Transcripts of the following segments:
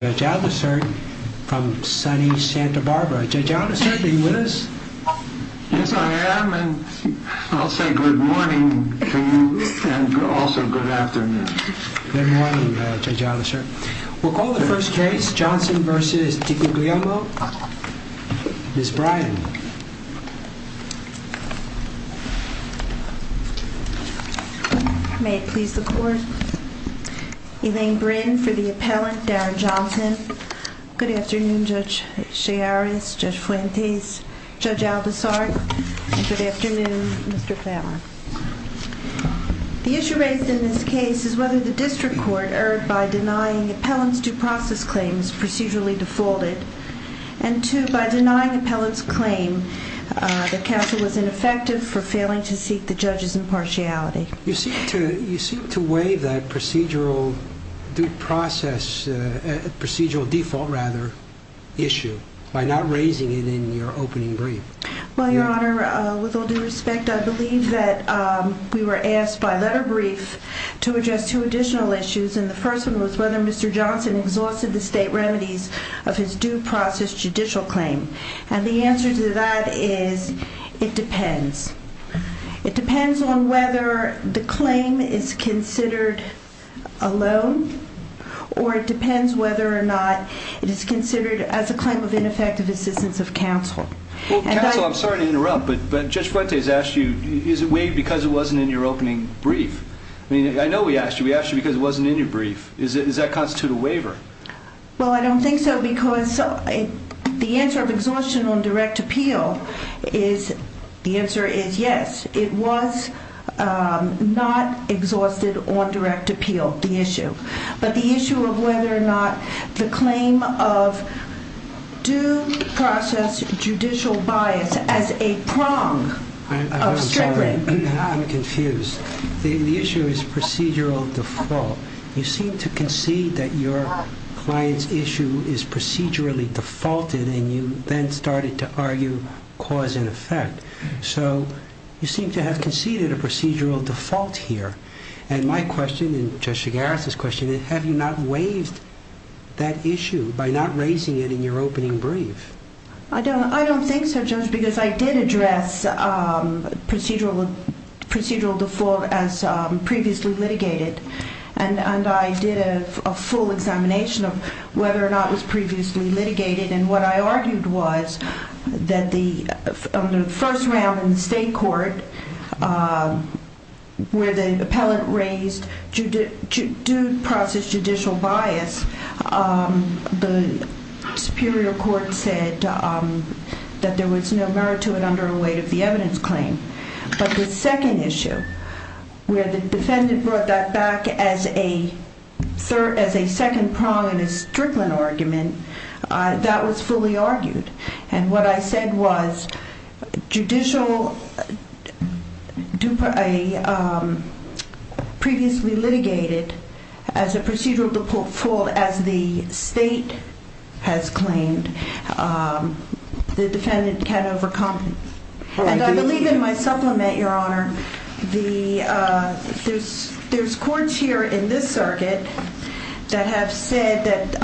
Mr. Johnson v. Diguglielmo. Ms. Bryan. May it please the court. Elaine Bryn for the appellant, Darren Johnson. Good afternoon Judge Chiaris, Judge Fuentes, Judge Aldisart, and good afternoon Mr. Fallon. The issue raised in this case is whether the district court erred by denying appellant's due process claims procedurally defaulted. And two, by denying appellant's claim, the counsel was ineffective for failing to seek the judge's impartiality. You seem to waive that procedural due process, procedural default rather, issue by not raising it in your opening brief. Well, Your Honor, with all due respect, I believe that we were asked by letter brief to address two additional issues, and the first one was whether Mr. Johnson exhausted the state remedies of his due process judicial claim. And the answer to that is, it depends. It depends on whether the claim is considered alone, or it depends whether or not it is considered as a claim of ineffective assistance of counsel. Counsel, I'm sorry to interrupt, but Judge Fuentes asked you, is it waived because it wasn't in your opening brief? I mean, I know we asked you, we asked you because it wasn't in your brief. Does that constitute a waiver? Well, I don't think so, because the answer of exhaustion on direct appeal is, the answer is yes. It was not exhausted on direct appeal, the issue. But the issue of whether or not the claim of due process judicial bias as a prong of stricter. I'm sorry, I'm confused. The issue is procedural default. You seem to concede that your client's issue is procedurally defaulted, and you then started to argue cause and effect. So you seem to have conceded a procedural default here. And my question, and Judge Figueres' question, is have you not waived that issue by not raising it in your opening brief? I don't think so, Judge, because I did address procedural default as previously litigated. And I did a full examination of whether or not it was previously litigated. And what I argued was that on the first round in the state court, where the appellant raised due process judicial bias, the superior court said that there was no merit to it under a weight of the evidence claim. But the second issue, where the defendant brought that back as a second prong in a strickland argument, that was fully argued. And what I said was, judicial previously litigated as a procedural default as the state has claimed, the defendant can overcome. And I believe in my supplement, Your Honor, there's courts here in this circuit that have said that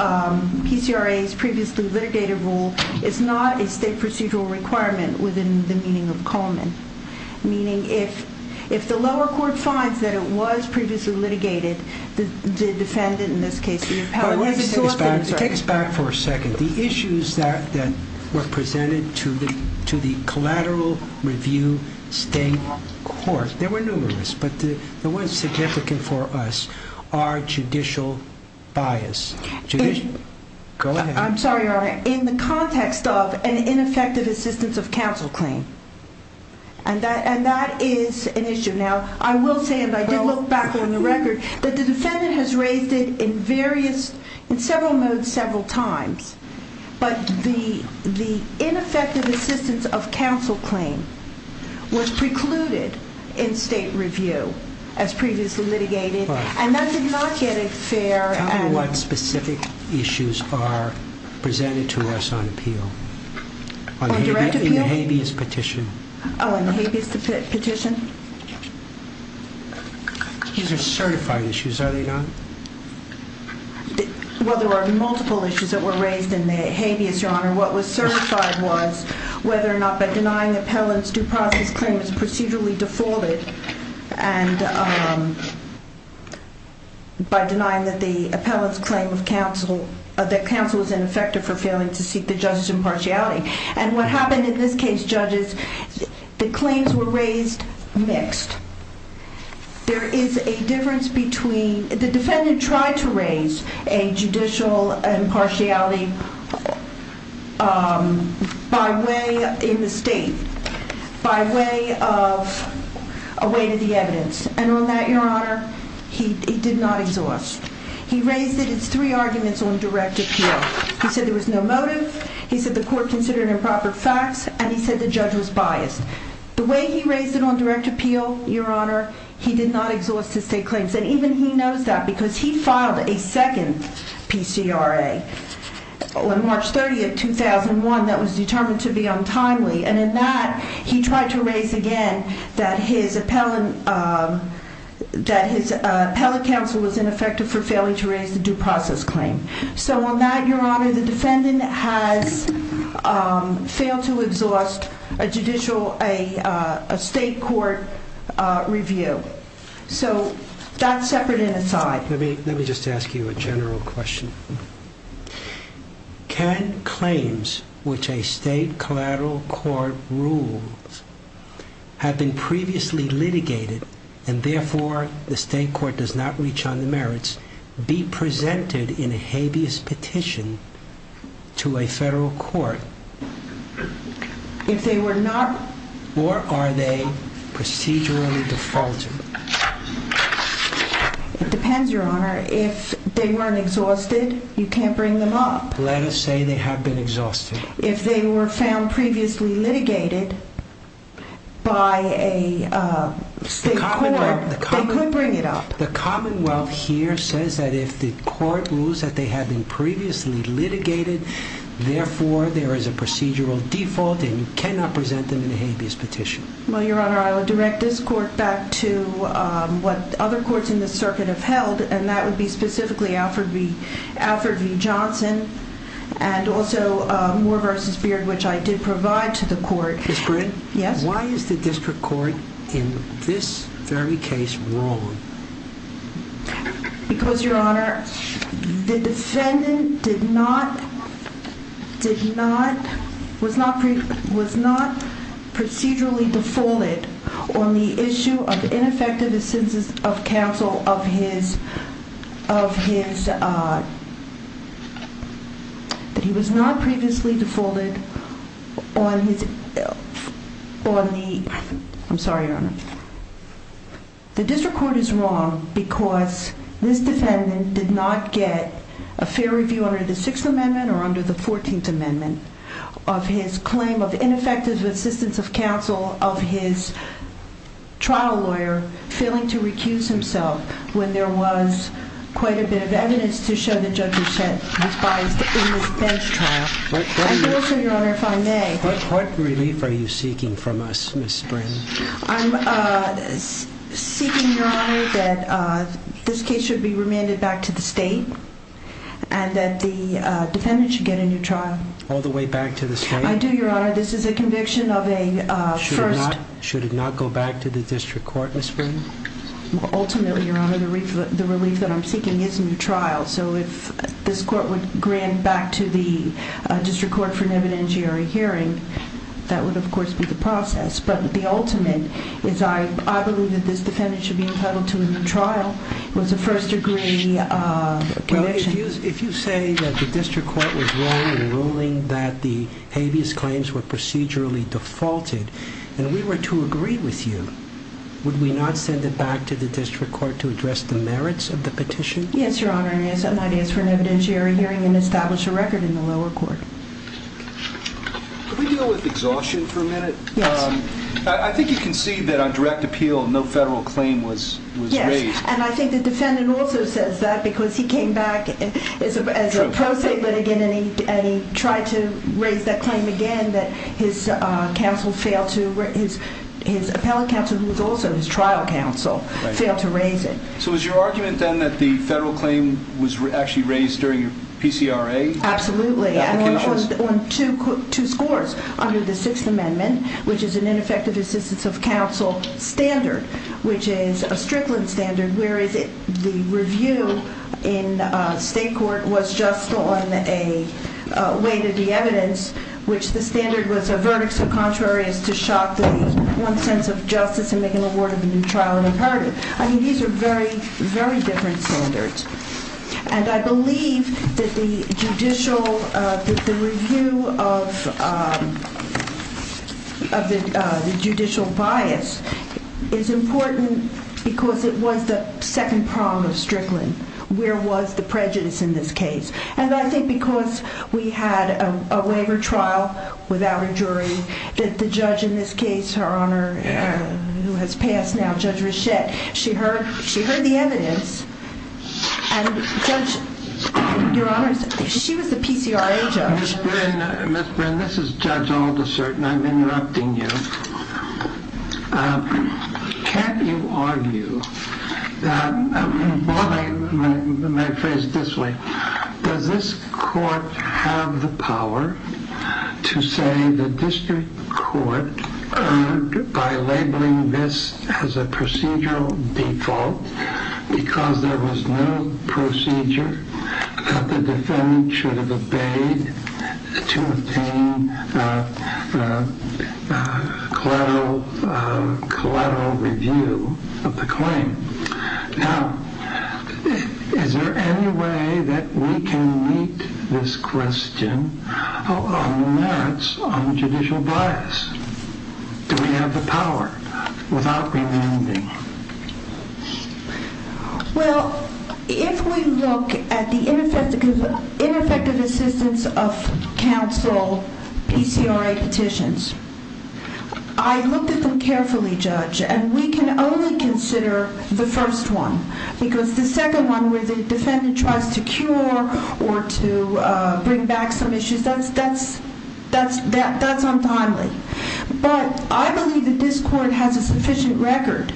PCRA's previously litigated rule is not a state procedural requirement within the meaning of Coleman. Meaning if the lower court finds that it was previously litigated, the defendant, in this case, the appellant... It takes back for a second. The issues that were presented to the collateral review state court, there were numerous, but the one significant for us are judicial bias. Go ahead. I'm sorry, Your Honor. In the context of an ineffective assistance of counsel claim. And that is an issue. Now, I will say, and I did look back on the record, that the defendant has raised it in various, in several modes, several times. But the ineffective assistance of counsel claim was precluded in state review as previously litigated. And that did not get a fair... How many specific issues are presented to us on appeal? On direct appeal? In the habeas petition. Oh, in the habeas petition? These are certified issues, are they not? Well, there are multiple issues that were raised in the habeas, Your Honor. What was certified was whether or not by denying the appellant's due process claim is procedurally defaulted. And by denying that the appellant's claim of counsel, that counsel was ineffective for failing to seek the judge's impartiality. And what happened in this case, judges, the claims were raised mixed. There is a difference between, the defendant tried to raise a judicial impartiality by way, in the state, by way of, a way to the evidence. And on that, Your Honor, he did not exhaust. He raised it, it's three arguments on direct appeal. He said there was no motive, he said the court considered improper facts, and he said the judge was biased. The way he raised it on direct appeal, Your Honor, he did not exhaust his state claims. And even he knows that, because he filed a second PCRA on March 30th, 2001, that was determined to be untimely. And in that, he tried to raise again that his appellant, that his appellate counsel was ineffective for failing to raise the due process claim. So on that, Your Honor, the defendant has failed to exhaust a judicial, a state court review. So, that's separate and aside. Let me, let me just ask you a general question. Can claims which a state collateral court rules have been previously litigated, and therefore, the state court does not reach on the merits, be presented in a habeas petition to a federal court, if they were not, or are they procedurally defaulting? It depends, Your Honor. If they weren't exhausted, you can't bring them up. Let us say they have been exhausted. If they were found previously litigated by a state court, they could bring it up. The Commonwealth here says that if the court rules that they have been previously litigated, therefore, there is a procedural default, and you cannot present them in a habeas petition. Well, Your Honor, I will direct this court back to what other courts in this circuit have held, and that would be specifically Alford v. Johnson, and also Moore v. Beard, which I did provide to the court. Ms. Britt? Yes? Why is the district court in this very case wrong? Because, Your Honor, the defendant did not, was not procedurally defaulted on the issue of ineffective assent of counsel of his, that he was not previously defaulted on his, on the, I'm sorry, Your Honor. The district court is wrong because this defendant did not get a fair review under the Sixth Amendment or under the Fourteenth Amendment of his claim of ineffective assistance of counsel of his trial lawyer failing to recuse himself when there was quite a bit of evidence to show the judge was biased in this bench trial. And also, Your Honor, if I may. What relief are you seeking from us, Ms. Sprint? I'm seeking, Your Honor, that this case should be remanded back to the state and that the defendant should get a new trial. All the way back to the state? I do, Your Honor. This is a conviction of a first. Should it not go back to the district court, Ms. Sprint? Ultimately, Your Honor, the relief that I'm seeking is a new trial. So if this court would grant back to the district court for an evidentiary hearing, that would of course be the process. But the ultimate is I believe that this defendant should be entitled to a new trial. It was a first degree conviction. If you say that the district court was wrong in ruling that the habeas claims were procedurally defaulted and we were to agree with you, would we not send it back to the district court to address the merits of the petition? Yes, Your Honor. I might ask for an evidentiary hearing and establish a record in the lower court. Could we deal with exhaustion for a minute? Yes. I think you can see that on direct appeal, no federal claim was raised. Yes. And I think the defendant also says that because he came back as a pro se litigant and he tried to raise that claim again that his appellate counsel, who was also his trial counsel, failed to raise it. So is your argument then that the federal claim was actually raised during PCRA? Absolutely. On two scores under the Sixth Amendment, which is an ineffective assistance of counsel standard, which is a Strickland standard, whereas the review in state court was just on a way to de-evidence, which the standard was a verdict so contrary is to shock the one sense of justice and make an award of a new trial imperative. I mean, these are very, very different standards. And I believe that the judicial, that the review of the judicial bias is important because it was the second prong of Strickland. Where was the prejudice in this case? And I think because we had a waiver trial without a jury that the judge in this case, her Honor, who has passed now, Judge Richette, she heard the evidence and Judge, your Honor, she was the PCRA judge. Ms. Bryn, this is Judge Aldershot and I'm interrupting you. Can't you argue that, my phrase this way, does this court have the power to say the court by labeling this as a procedural default because there was no procedure that the defendant should have obeyed to obtain collateral review of the claim? Now, is there any way that we can meet this question on the merits on judicial bias? Do we have the power without remanding? Well, if we look at the ineffective assistance of counsel PCRA petitions, I looked at them carefully, Judge, and we can only consider the first one because the second one where the defendant tries to cure or to bring back some issues, that's untimely. But I believe that this court has a sufficient record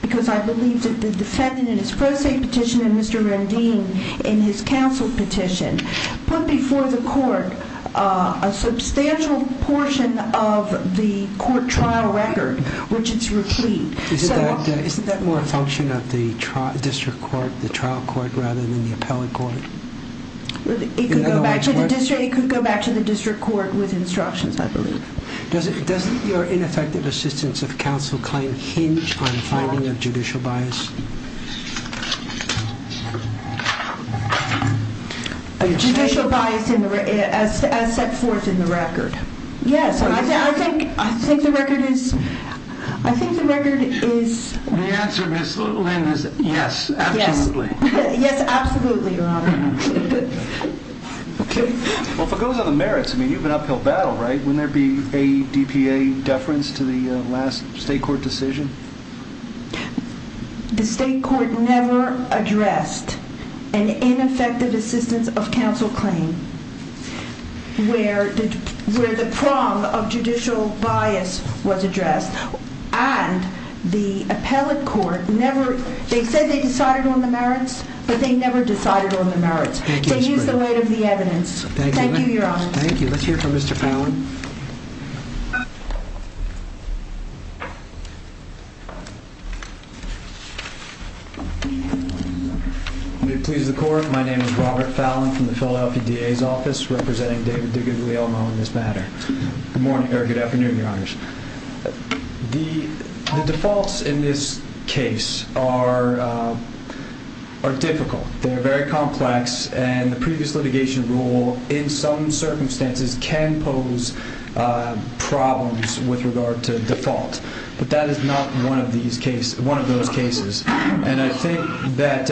because I believe that the defendant in his pro se petition and Mr. Rendine in his counsel petition put before the court a substantial portion of the court trial record, which is replete. Isn't that more a function of the district court, the trial court, rather than the appellate court? It could go back to the district court with instructions, I believe. Does your ineffective assistance of counsel claim hinge on finding a judicial bias? A judicial bias as set forth in the record. Yes, I think the record is... The answer, Ms. Lynn, is yes, absolutely. Yes, absolutely, Your Honor. Okay. Well, if it goes on the merits, I mean, you have an uphill battle, right? Wouldn't there be a DPA deference to the last state court decision? The state court never addressed an ineffective assistance of counsel claim where the prong of judicial bias was addressed. And the appellate court never... They use the weight of the evidence. Thank you, Your Honor. Thank you. Let's hear from Mr. Fallon. May it please the court, my name is Robert Fallon from the Philadelphia DA's office, representing David DiGuglielmo in this matter. Good morning, or good afternoon, Your Honors. The defaults in this case are difficult. They're very complex, and the previous litigation rule, in some circumstances, can pose problems with regard to default. But that is not one of those cases. And I think that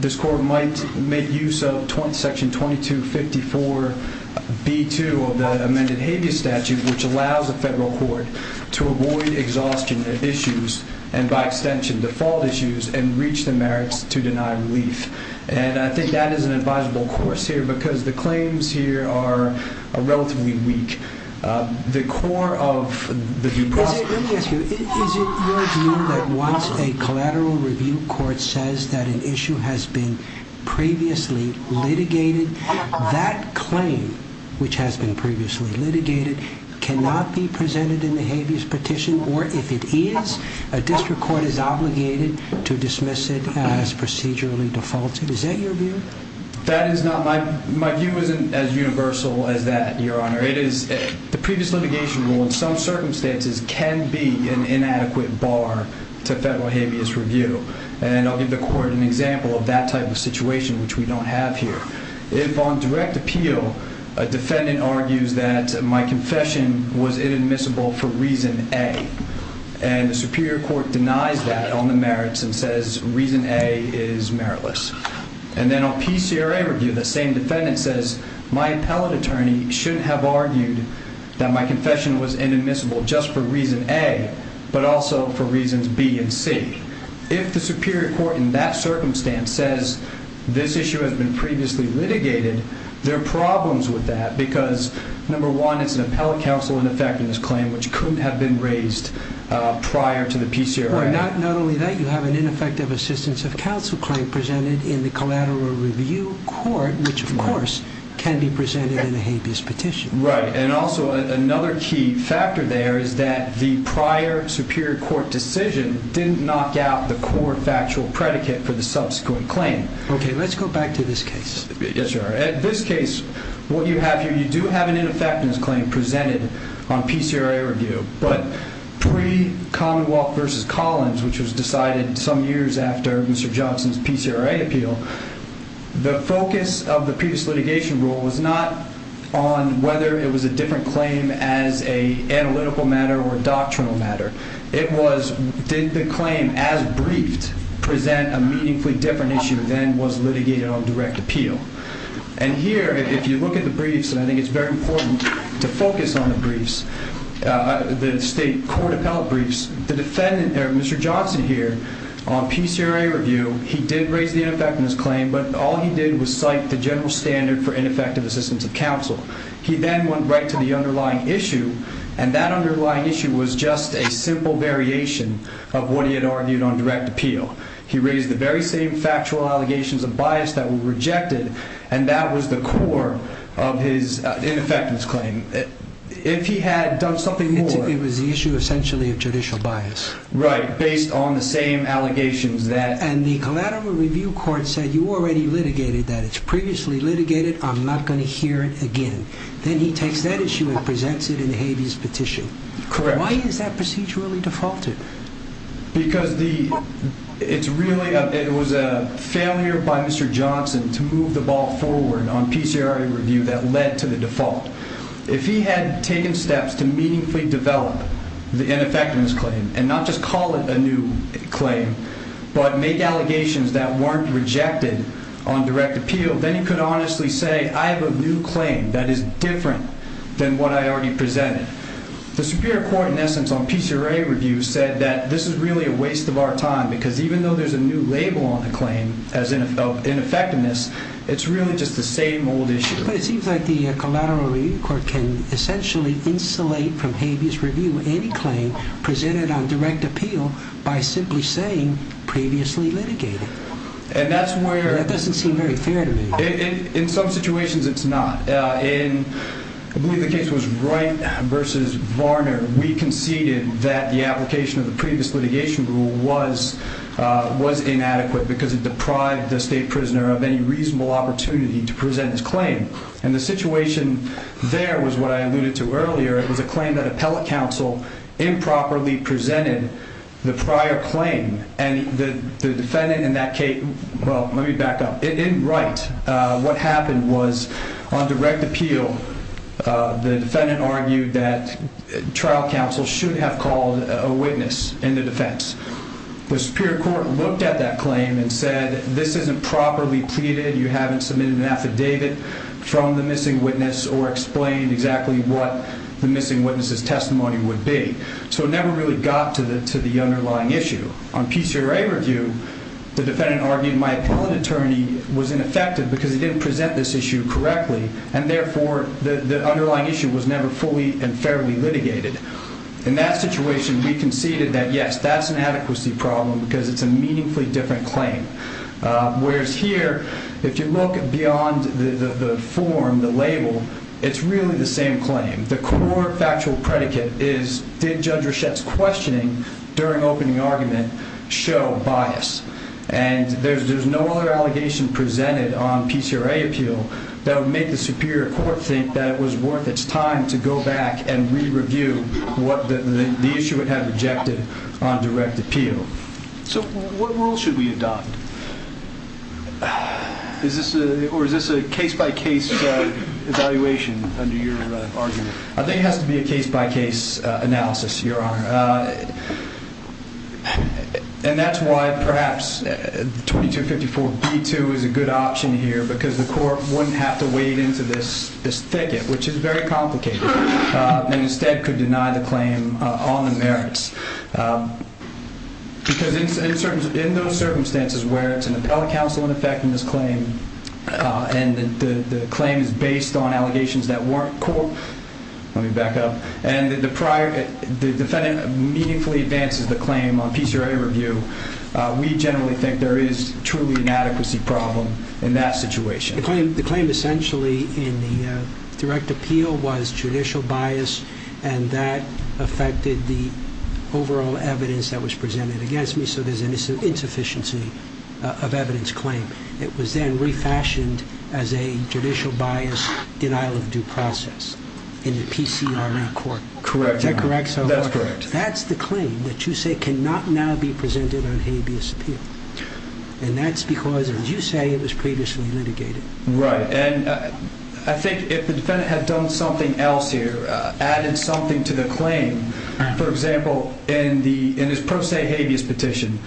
this court might make use of Section 2254b2 of the amended habeas statute, which allows a federal court to avoid exhaustion issues, and by extension default issues, and reach the merits to deny relief. And I think that is an advisable course here, because the claims here are relatively weak. The core of the... Let me ask you, is it your view that once a collateral review court says that an issue has been previously litigated, that claim, which has been previously litigated, cannot be presented in the habeas petition? Or if it is, a district court is obligated to dismiss it as procedurally defaulted? Is that your view? That is not my... My view isn't as universal as that, Your Honor. It is... The previous litigation rule, in some circumstances, can be an inadequate bar to federal habeas review. And I'll give the court an example of that type of situation, which we don't have here. If on direct appeal, a defendant argues that my confession was inadmissible for reason A, and the superior court denies that on the merits and says reason A is meritless. And then on PCRA review, the same defendant says, my appellate attorney shouldn't have argued that my confession was inadmissible just for reason A, but also for reasons B and C. If the superior court, in that circumstance, says this issue has been previously litigated, there are problems with that because, number one, it's an appellate counsel ineffectiveness claim, which couldn't have been raised prior to the PCRA. Not only that, you have an ineffective assistance of counsel claim presented in the collateral review court, which, of course, can be presented in a habeas petition. Right, and also another key factor there is that the prior superior court decision didn't knock out the core factual predicate for the subsequent claim. Okay, let's go back to this case. Yes, sir. In this case, what you have here, you do have an ineffectiveness claim presented on PCRA review, but pre-Commonwealth v. Collins, which was decided some years after Mr. Johnson's PCRA appeal, the focus of the previous litigation rule was not on whether it was a different claim as an analytical matter or a doctrinal matter. It was, did the claim, as briefed, present a meaningfully different issue than was litigated on direct appeal? And here, if you look at the briefs, and I think it's very important to focus on the briefs, the state court appellate briefs, the defendant there, Mr. Johnson here, on PCRA review, he did raise the ineffectiveness claim, but all he did was cite the general standard for ineffective assistance of counsel. He then went right to the underlying issue, and that underlying issue was just a simple variation of what he had argued on direct appeal. He raised the very same factual allegations of bias that were rejected, and that was the core of his ineffectiveness claim. If he had done something more... It was the issue, essentially, of judicial bias. Right, based on the same allegations that... And the collateral review court said, you already litigated that. It's previously litigated. I'm not going to hear it again. Then he takes that issue and presents it in the habeas petition. Correct. Why is that procedurally defaulted? Because the, it's really, it was a failure by Mr. Johnson to move the ball forward on PCRA review that led to the default. If he had taken steps to meaningfully develop the ineffectiveness claim, and not just call it a new claim, but make allegations that weren't rejected on direct appeal, then he could honestly say, I have a new claim that is different than what I already presented. The superior court, in essence, on PCRA review said that this is really a waste of our time, because even though there's a new label on the claim of ineffectiveness, it's really just the same old issue. But it seems like the collateral review court can essentially insulate from habeas review any claim presented on direct appeal by simply saying previously litigated. And that's where... That doesn't seem very fair to me. In some situations it's not. In, I believe the case was Wright v. Varner, we conceded that the application of the previous litigation rule was, was inadequate because it deprived the state prisoner of any reasonable opportunity to present his claim. And the situation there was what I alluded to earlier. It was a claim that appellate counsel improperly presented the prior claim. And the defendant in that case... Well, let me back up. In Wright, what happened was, on direct appeal, the defendant argued that trial counsel should have called a witness in the defense. The superior court looked at that claim and said, this isn't properly pleaded, you haven't submitted an affidavit from the missing witness or explained exactly what the missing witness's testimony would be. So it never really got to the underlying issue. On PCRA review, the defendant argued my appellate attorney was ineffective because he didn't present this issue correctly, and therefore the underlying issue was never fully and fairly litigated. In that situation, we conceded that, yes, that's an adequacy problem because it's a meaningfully different claim. Whereas here, if you look beyond the form, the label, it's really the same claim. The core factual predicate is, did Judge Rochette's questioning during opening argument show bias? And there's no other allegation presented on PCRA appeal that would make the superior court think that it was worth its time to go back and re-review what the issue it had rejected on direct appeal. So what rule should we adopt? Or is this a case-by-case evaluation under your argument? I think it has to be a case-by-case analysis, Your Honor. And that's why perhaps 2254b2 is a good option here because the court wouldn't have to wade into this thicket, which is very complicated, and instead could deny the claim on the merits. Because in those circumstances where it's an appellate counsel in effecting this claim and the claim is based on allegations that weren't core, let me back up, and the defendant meaningfully advances the claim on PCRA review, we generally think there is truly an adequacy problem in that situation. The claim essentially in the direct appeal was judicial bias and that affected the overall evidence that was presented against me, so there's an insufficiency of evidence claim. It was then refashioned as a judicial bias denial of due process in the PCRA court. Correct. Is that correct, so far? That's correct. That's the claim that you say cannot now be presented on habeas appeal. And that's because, as you say, it was previously litigated. Right, and I think if the defendant had done something else here, added something to the claim, for example, in his pro se habeas petition,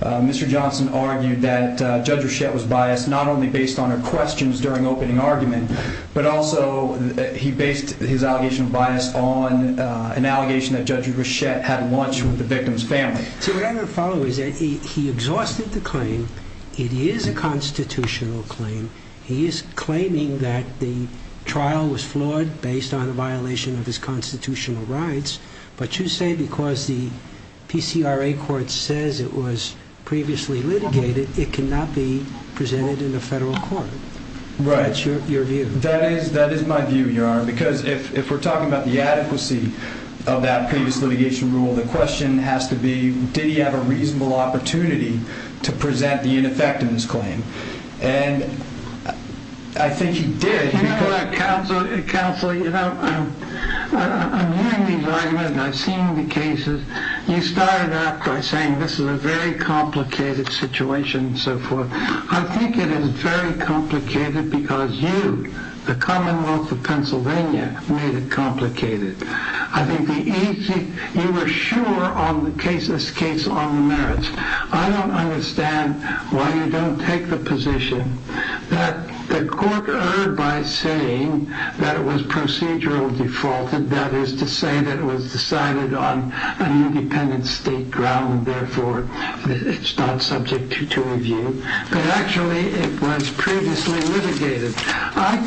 Mr. Johnson argued that Judge Rochette was biased not only based on her questions during opening argument, but also he based his allegation of bias on an allegation that Judge Rochette had lunch with the victim's family. See, what I'm going to follow is that he exhausted the claim, it is a constitutional claim, he is claiming that the trial was flawed based on a violation of his constitutional rights, but you say because the PCRA court says it was previously litigated, it cannot be presented in a federal court. Right. That's your view. That is my view, Your Honor, because if we're talking about the adequacy of that previous litigation rule, the question has to be did he have a reasonable opportunity to present the ineffectiveness claim? And I think he did. Counsel, you know, I'm viewing these arguments and I've seen the cases, you started out by saying this is a very complicated situation and so forth. I think it is very complicated because you, the Commonwealth of Pennsylvania, made it complicated. I think you were sure on the case on the merits. I don't understand why you don't take the position that the court erred by saying that it was procedurally defaulted, that is to say that it was decided on an independent state ground, therefore it's not subject to review, but actually it was previously litigated. I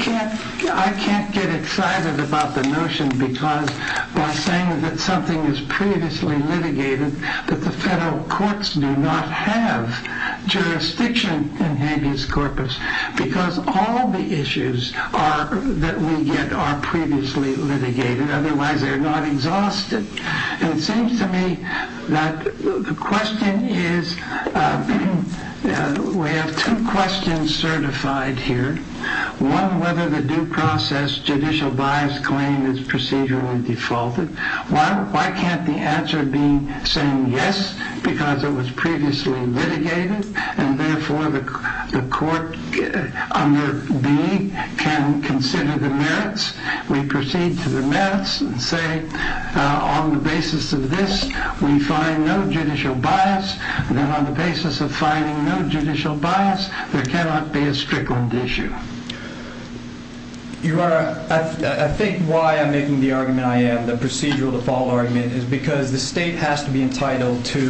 can't get excited about the notion because by saying that something is previously litigated, that the federal courts do not have jurisdiction in habeas corpus because all the issues that we get are previously litigated, otherwise they're not exhausted. It seems to me that the question is, we have two questions certified here. One, whether the due process judicial bias claim is procedurally defaulted. Why can't the answer be saying yes because it was previously litigated and therefore the court under B can consider the merits. We proceed to the merits and say on the basis of this we find no judicial bias and on the basis of finding no judicial bias there cannot be a strickland issue. I think why I'm making the argument I am, the procedural default argument, is because the state has to be entitled to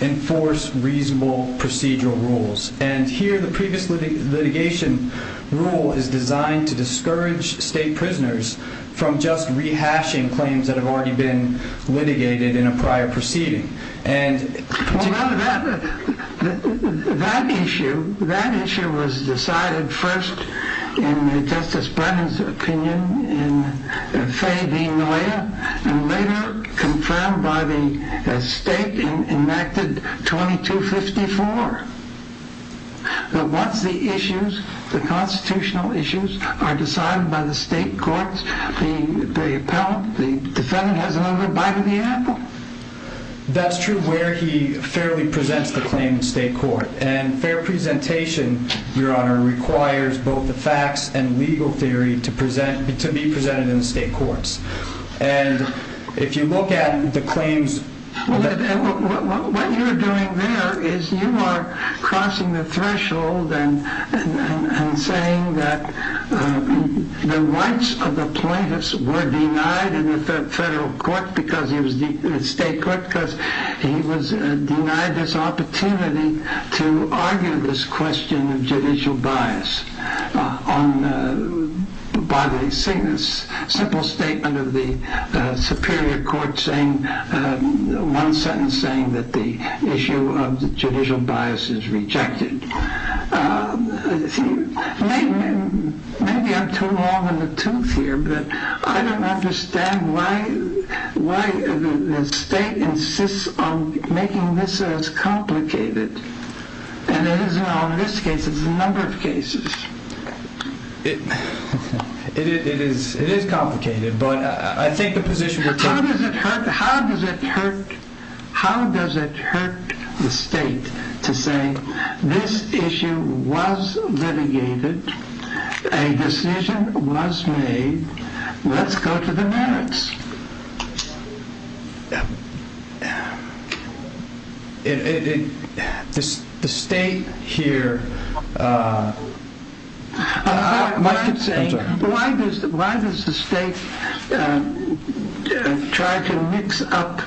enforce reasonable procedural rules. Here the previous litigation rule is designed to discourage state prisoners from just rehashing claims that have already been litigated in a prior proceeding. That issue was decided first in Justice Brennan's opinion in Fay v. Noya and later confirmed by the state in Act 2254. Once the constitutional issues are decided by the state courts, the defendant has another bite of the apple. That's true where he fairly presents the claim in state court. Fair presentation, Your Honor, requires both the facts and legal theory to be presented in the state courts. If you look at the claims... What you're doing there is you are crossing the threshold and saying that the rights of the plaintiffs were denied in the federal court because he was denied this opportunity to argue this question of judicial bias by the simple statement of the superior court in one sentence saying that the issue of judicial bias is rejected. Maybe I'm too long in the tooth here, but I don't understand why the state insists on making this as complicated. And it isn't on this case, it's a number of cases. It is complicated, but I think the position... How does it hurt the state to say this issue was litigated, a decision was made, let's go to the merits? The state here... Why does the state try to mix up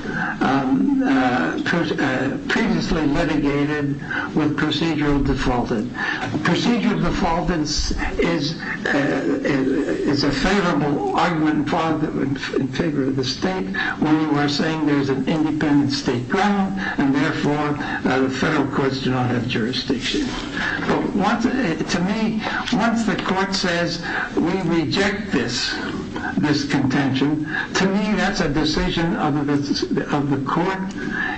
previously litigated with procedural defaulted? Procedural defaulted is a favorable argument in favor of the state when you are saying there is an independent state ground and therefore the federal courts do not have jurisdiction. To me, once the court says we reject this contention, to me that's a decision of the court.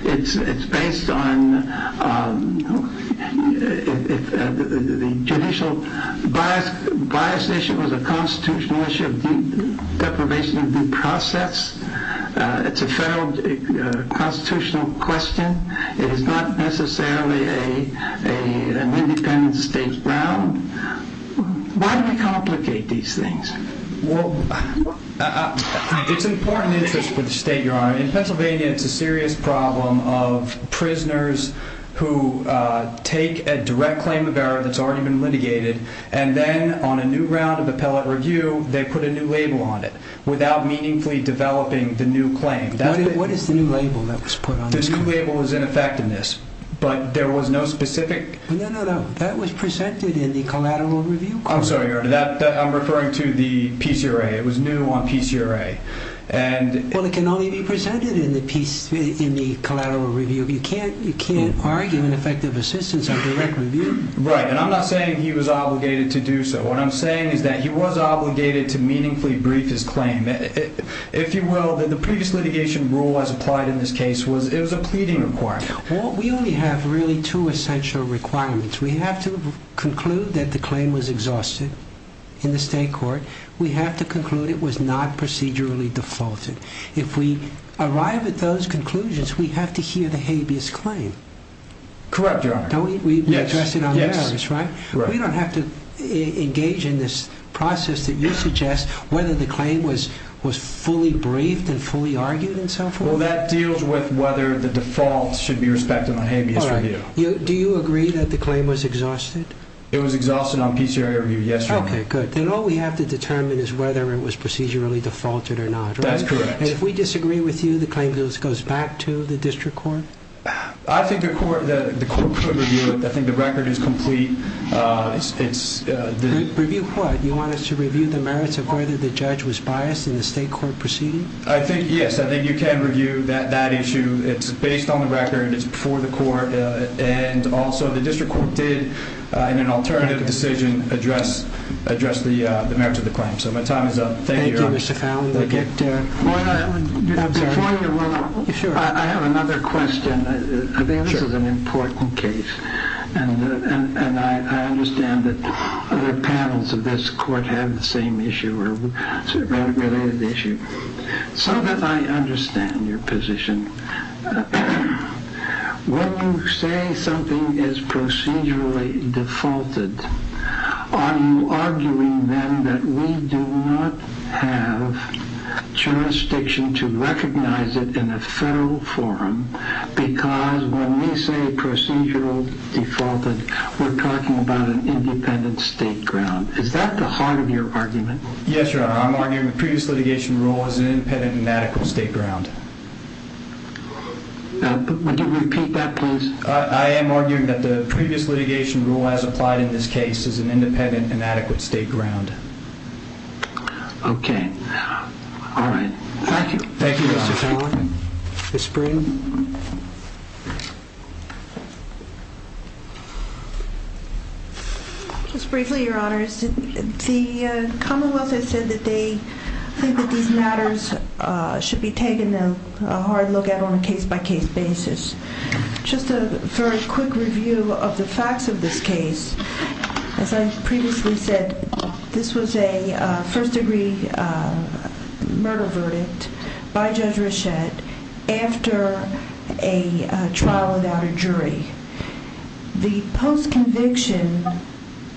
It's based on the judicial bias issue was a constitutional issue of deprivation of due process. It's a federal constitutional question. It is not necessarily an independent state ground. Why do we complicate these things? It's important interest for the state, Your Honor. In Pennsylvania, it's a serious problem of prisoners who take a direct claim of error that's already been litigated and then on a new round of appellate review, they put a new label on it without meaningfully developing the new claim. What is the new label that was put on it? The new label is ineffectiveness, but there was no specific... No, that was presented in the collateral review court. I'm sorry, Your Honor, I'm referring to the PCRA. It was new on PCRA. Well, it can only be presented in the collateral review. You can't argue an effective assistance on direct review. Right, and I'm not saying he was obligated to do so. What I'm saying is that he was obligated to meaningfully brief his claim. If you will, the previous litigation rule as applied in this case, it was a pleading requirement. We only have really two essential requirements. We have to conclude that the claim was exhausted in the state court. We have to conclude it was not procedurally defaulted. If we arrive at those conclusions, we have to hear the habeas claim. Correct, Your Honor. We addressed it on the merits, right? We don't have to engage in this process that you suggest whether the claim was fully briefed and fully argued and so forth? Well, that deals with whether the default should be respected on habeas review. Do you agree that the claim was exhausted? It was exhausted on PCRA review, yes, Your Honor. Okay, good. Then all we have to determine is whether it was procedurally defaulted or not, right? That's correct. And if we disagree with you, the claim goes back to the district court? I think the court could review it. I think the record is complete. Review what? You want us to review the merits of whether the judge was biased in the state court proceeding? Yes, I think you can review that issue. It's based on the record. It's before the court. And also, the district court did, in an alternative decision, address the merits of the claim. So my time is up. Thank you, Mr. Fowley. Before you go, I have another question. I think this is an important case. And I understand that other panels of this court have the same issue or a related issue. So that I understand your position. When you say something is procedurally defaulted, are you arguing then that we do not have jurisdiction to recognize it in a federal forum? Because when we say procedural defaulted, we're talking about an independent state ground. Is that the heart of your argument? Yes, Your Honor. I'm arguing the previous litigation rule is an independent and adequate state ground. Would you repeat that, please? I am arguing that the previous litigation rule as applied in this case is an independent and adequate state ground. Okay. All right. Thank you. Thank you, Your Honor. Mr. Fowley? Ms. Breen? Just briefly, Your Honors. The Commonwealth has said that they think that these matters should be taken a hard look at on a case-by-case basis. Just a very quick review of the facts of this case. As I previously said, this was a first-degree murder verdict by Judge Rochette after a trial without a jury. The post-conviction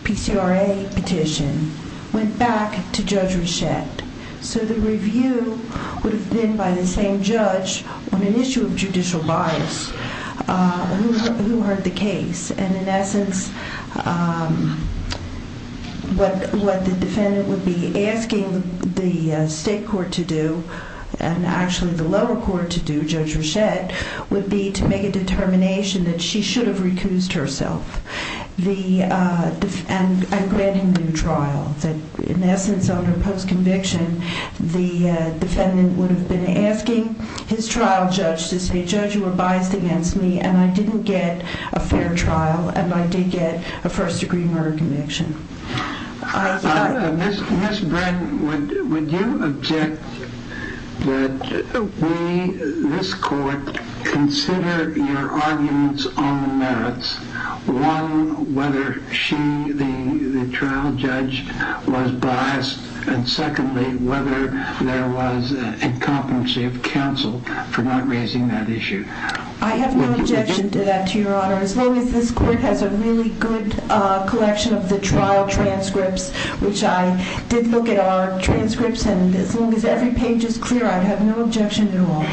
PCRA petition went back to Judge Rochette. The review would have been by the same judge on an issue of judicial bias who heard the case. In essence, what the defendant would be asking the state court to do, and actually the lower court to do, Judge Rochette, would be to make a determination that she should have recused herself and grant him new trial. In essence, under post-conviction, the defendant would have been asking his trial judge to say, Judge, you were biased against me and I didn't get a fair trial and I did get a first-degree murder conviction. Ms. Bren, would you object that we, this court, consider your arguments on the merits? One, whether she, the trial judge, was biased, and secondly, whether there was a comprehensive counsel for not raising that issue? I have no objection to that, Your Honor. As long as this court has a really good collection of the trial transcripts, which I did look at our transcripts, and as long as every page is clear, I have no objection at all.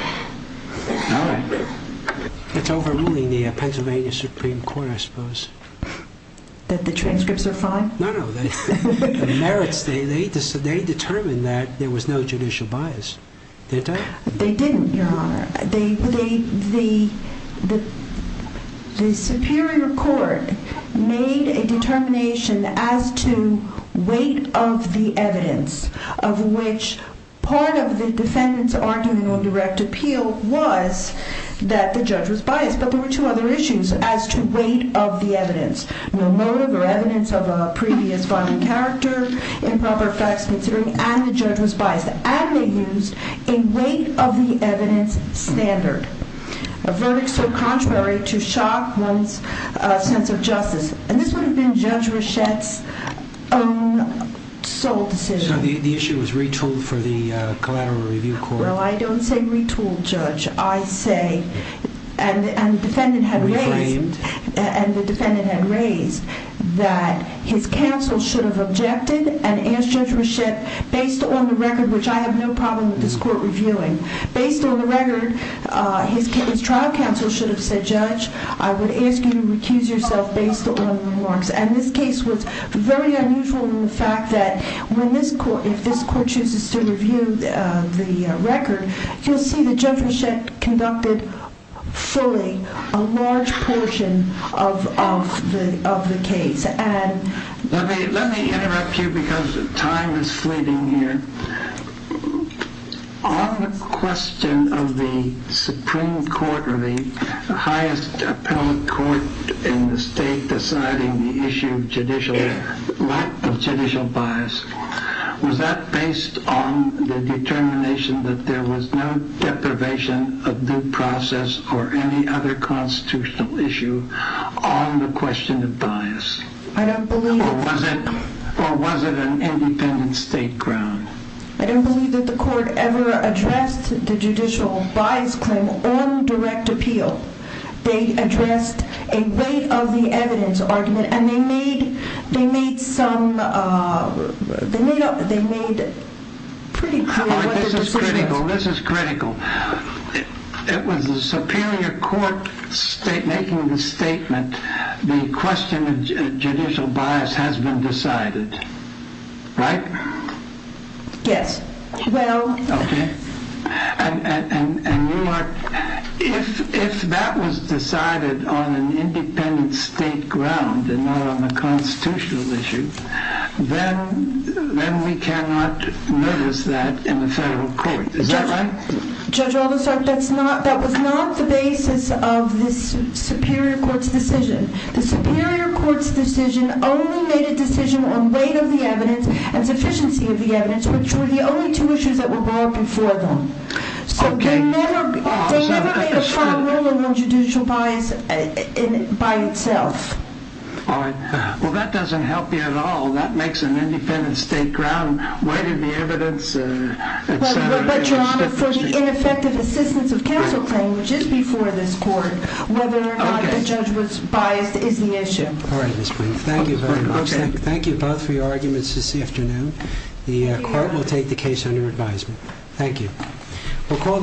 All right. It's overruling the Pennsylvania Supreme Court, I suppose. That the transcripts are fine? No, no. The merits, they determined that there was no judicial bias. Did they? They didn't, Your Honor. The Superior Court made a determination as to weight of the evidence, of which part of the defendant's argument on direct appeal was that the judge was biased, but there were two other issues as to weight of the evidence. No motive or evidence of a previous violent character, improper facts considering, and the judge was biased. And they used a weight of the evidence standard. A verdict so contrary to shock one's sense of justice. And this would have been Judge Reschett's own sole decision. So the issue was retooled for the collateral review court? Well, I don't say retooled, Judge. I say, and the defendant had raised, that his counsel should have objected and asked Judge Reschett, based on the record, which I have no problem with this court reviewing. Based on the record, his trial counsel should have said, Judge, I would ask you to recuse yourself based on the remarks. And this case was very unusual in the fact that when this court, if this court chooses to review the record, you'll see that Judge Reschett conducted fully a large portion of the case. Let me interrupt you because time is fleeting here. On the question of the Supreme Court or the highest appellate court in the state deciding the issue of judicial bias, was that based on the determination that there was no deprivation of due process or any other constitutional issue on the question of bias? I don't believe... Or was it an independent state ground? I don't believe that the court ever addressed the judicial bias claim on direct appeal. They addressed a weight of the evidence argument and they made some, they made pretty clear what the decision was. Well, this is critical. It was a superior court making the statement, the question of judicial bias has been decided. Right? Yes. Okay. And you are... If that was decided on an independent state ground and not on a constitutional issue, then we cannot notice that in the federal court. Is that right? Judge Aldersart, that was not the basis of this superior court's decision. The superior court's decision only made a decision on weight of the evidence and sufficiency of the evidence, which were the only two issues that were brought before them. Okay. So they never made a final ruling on judicial bias by itself. All right. Well, that doesn't help you at all. That makes an independent state ground. Weight of the evidence, etc. But, Your Honor, for the ineffective assistance of counsel claim, which is before this court, whether or not the judge was biased is the issue. All right, Ms. Prince. Thank you very much. Thank you both for your arguments this afternoon. The court will take the case under advisement. Thank you.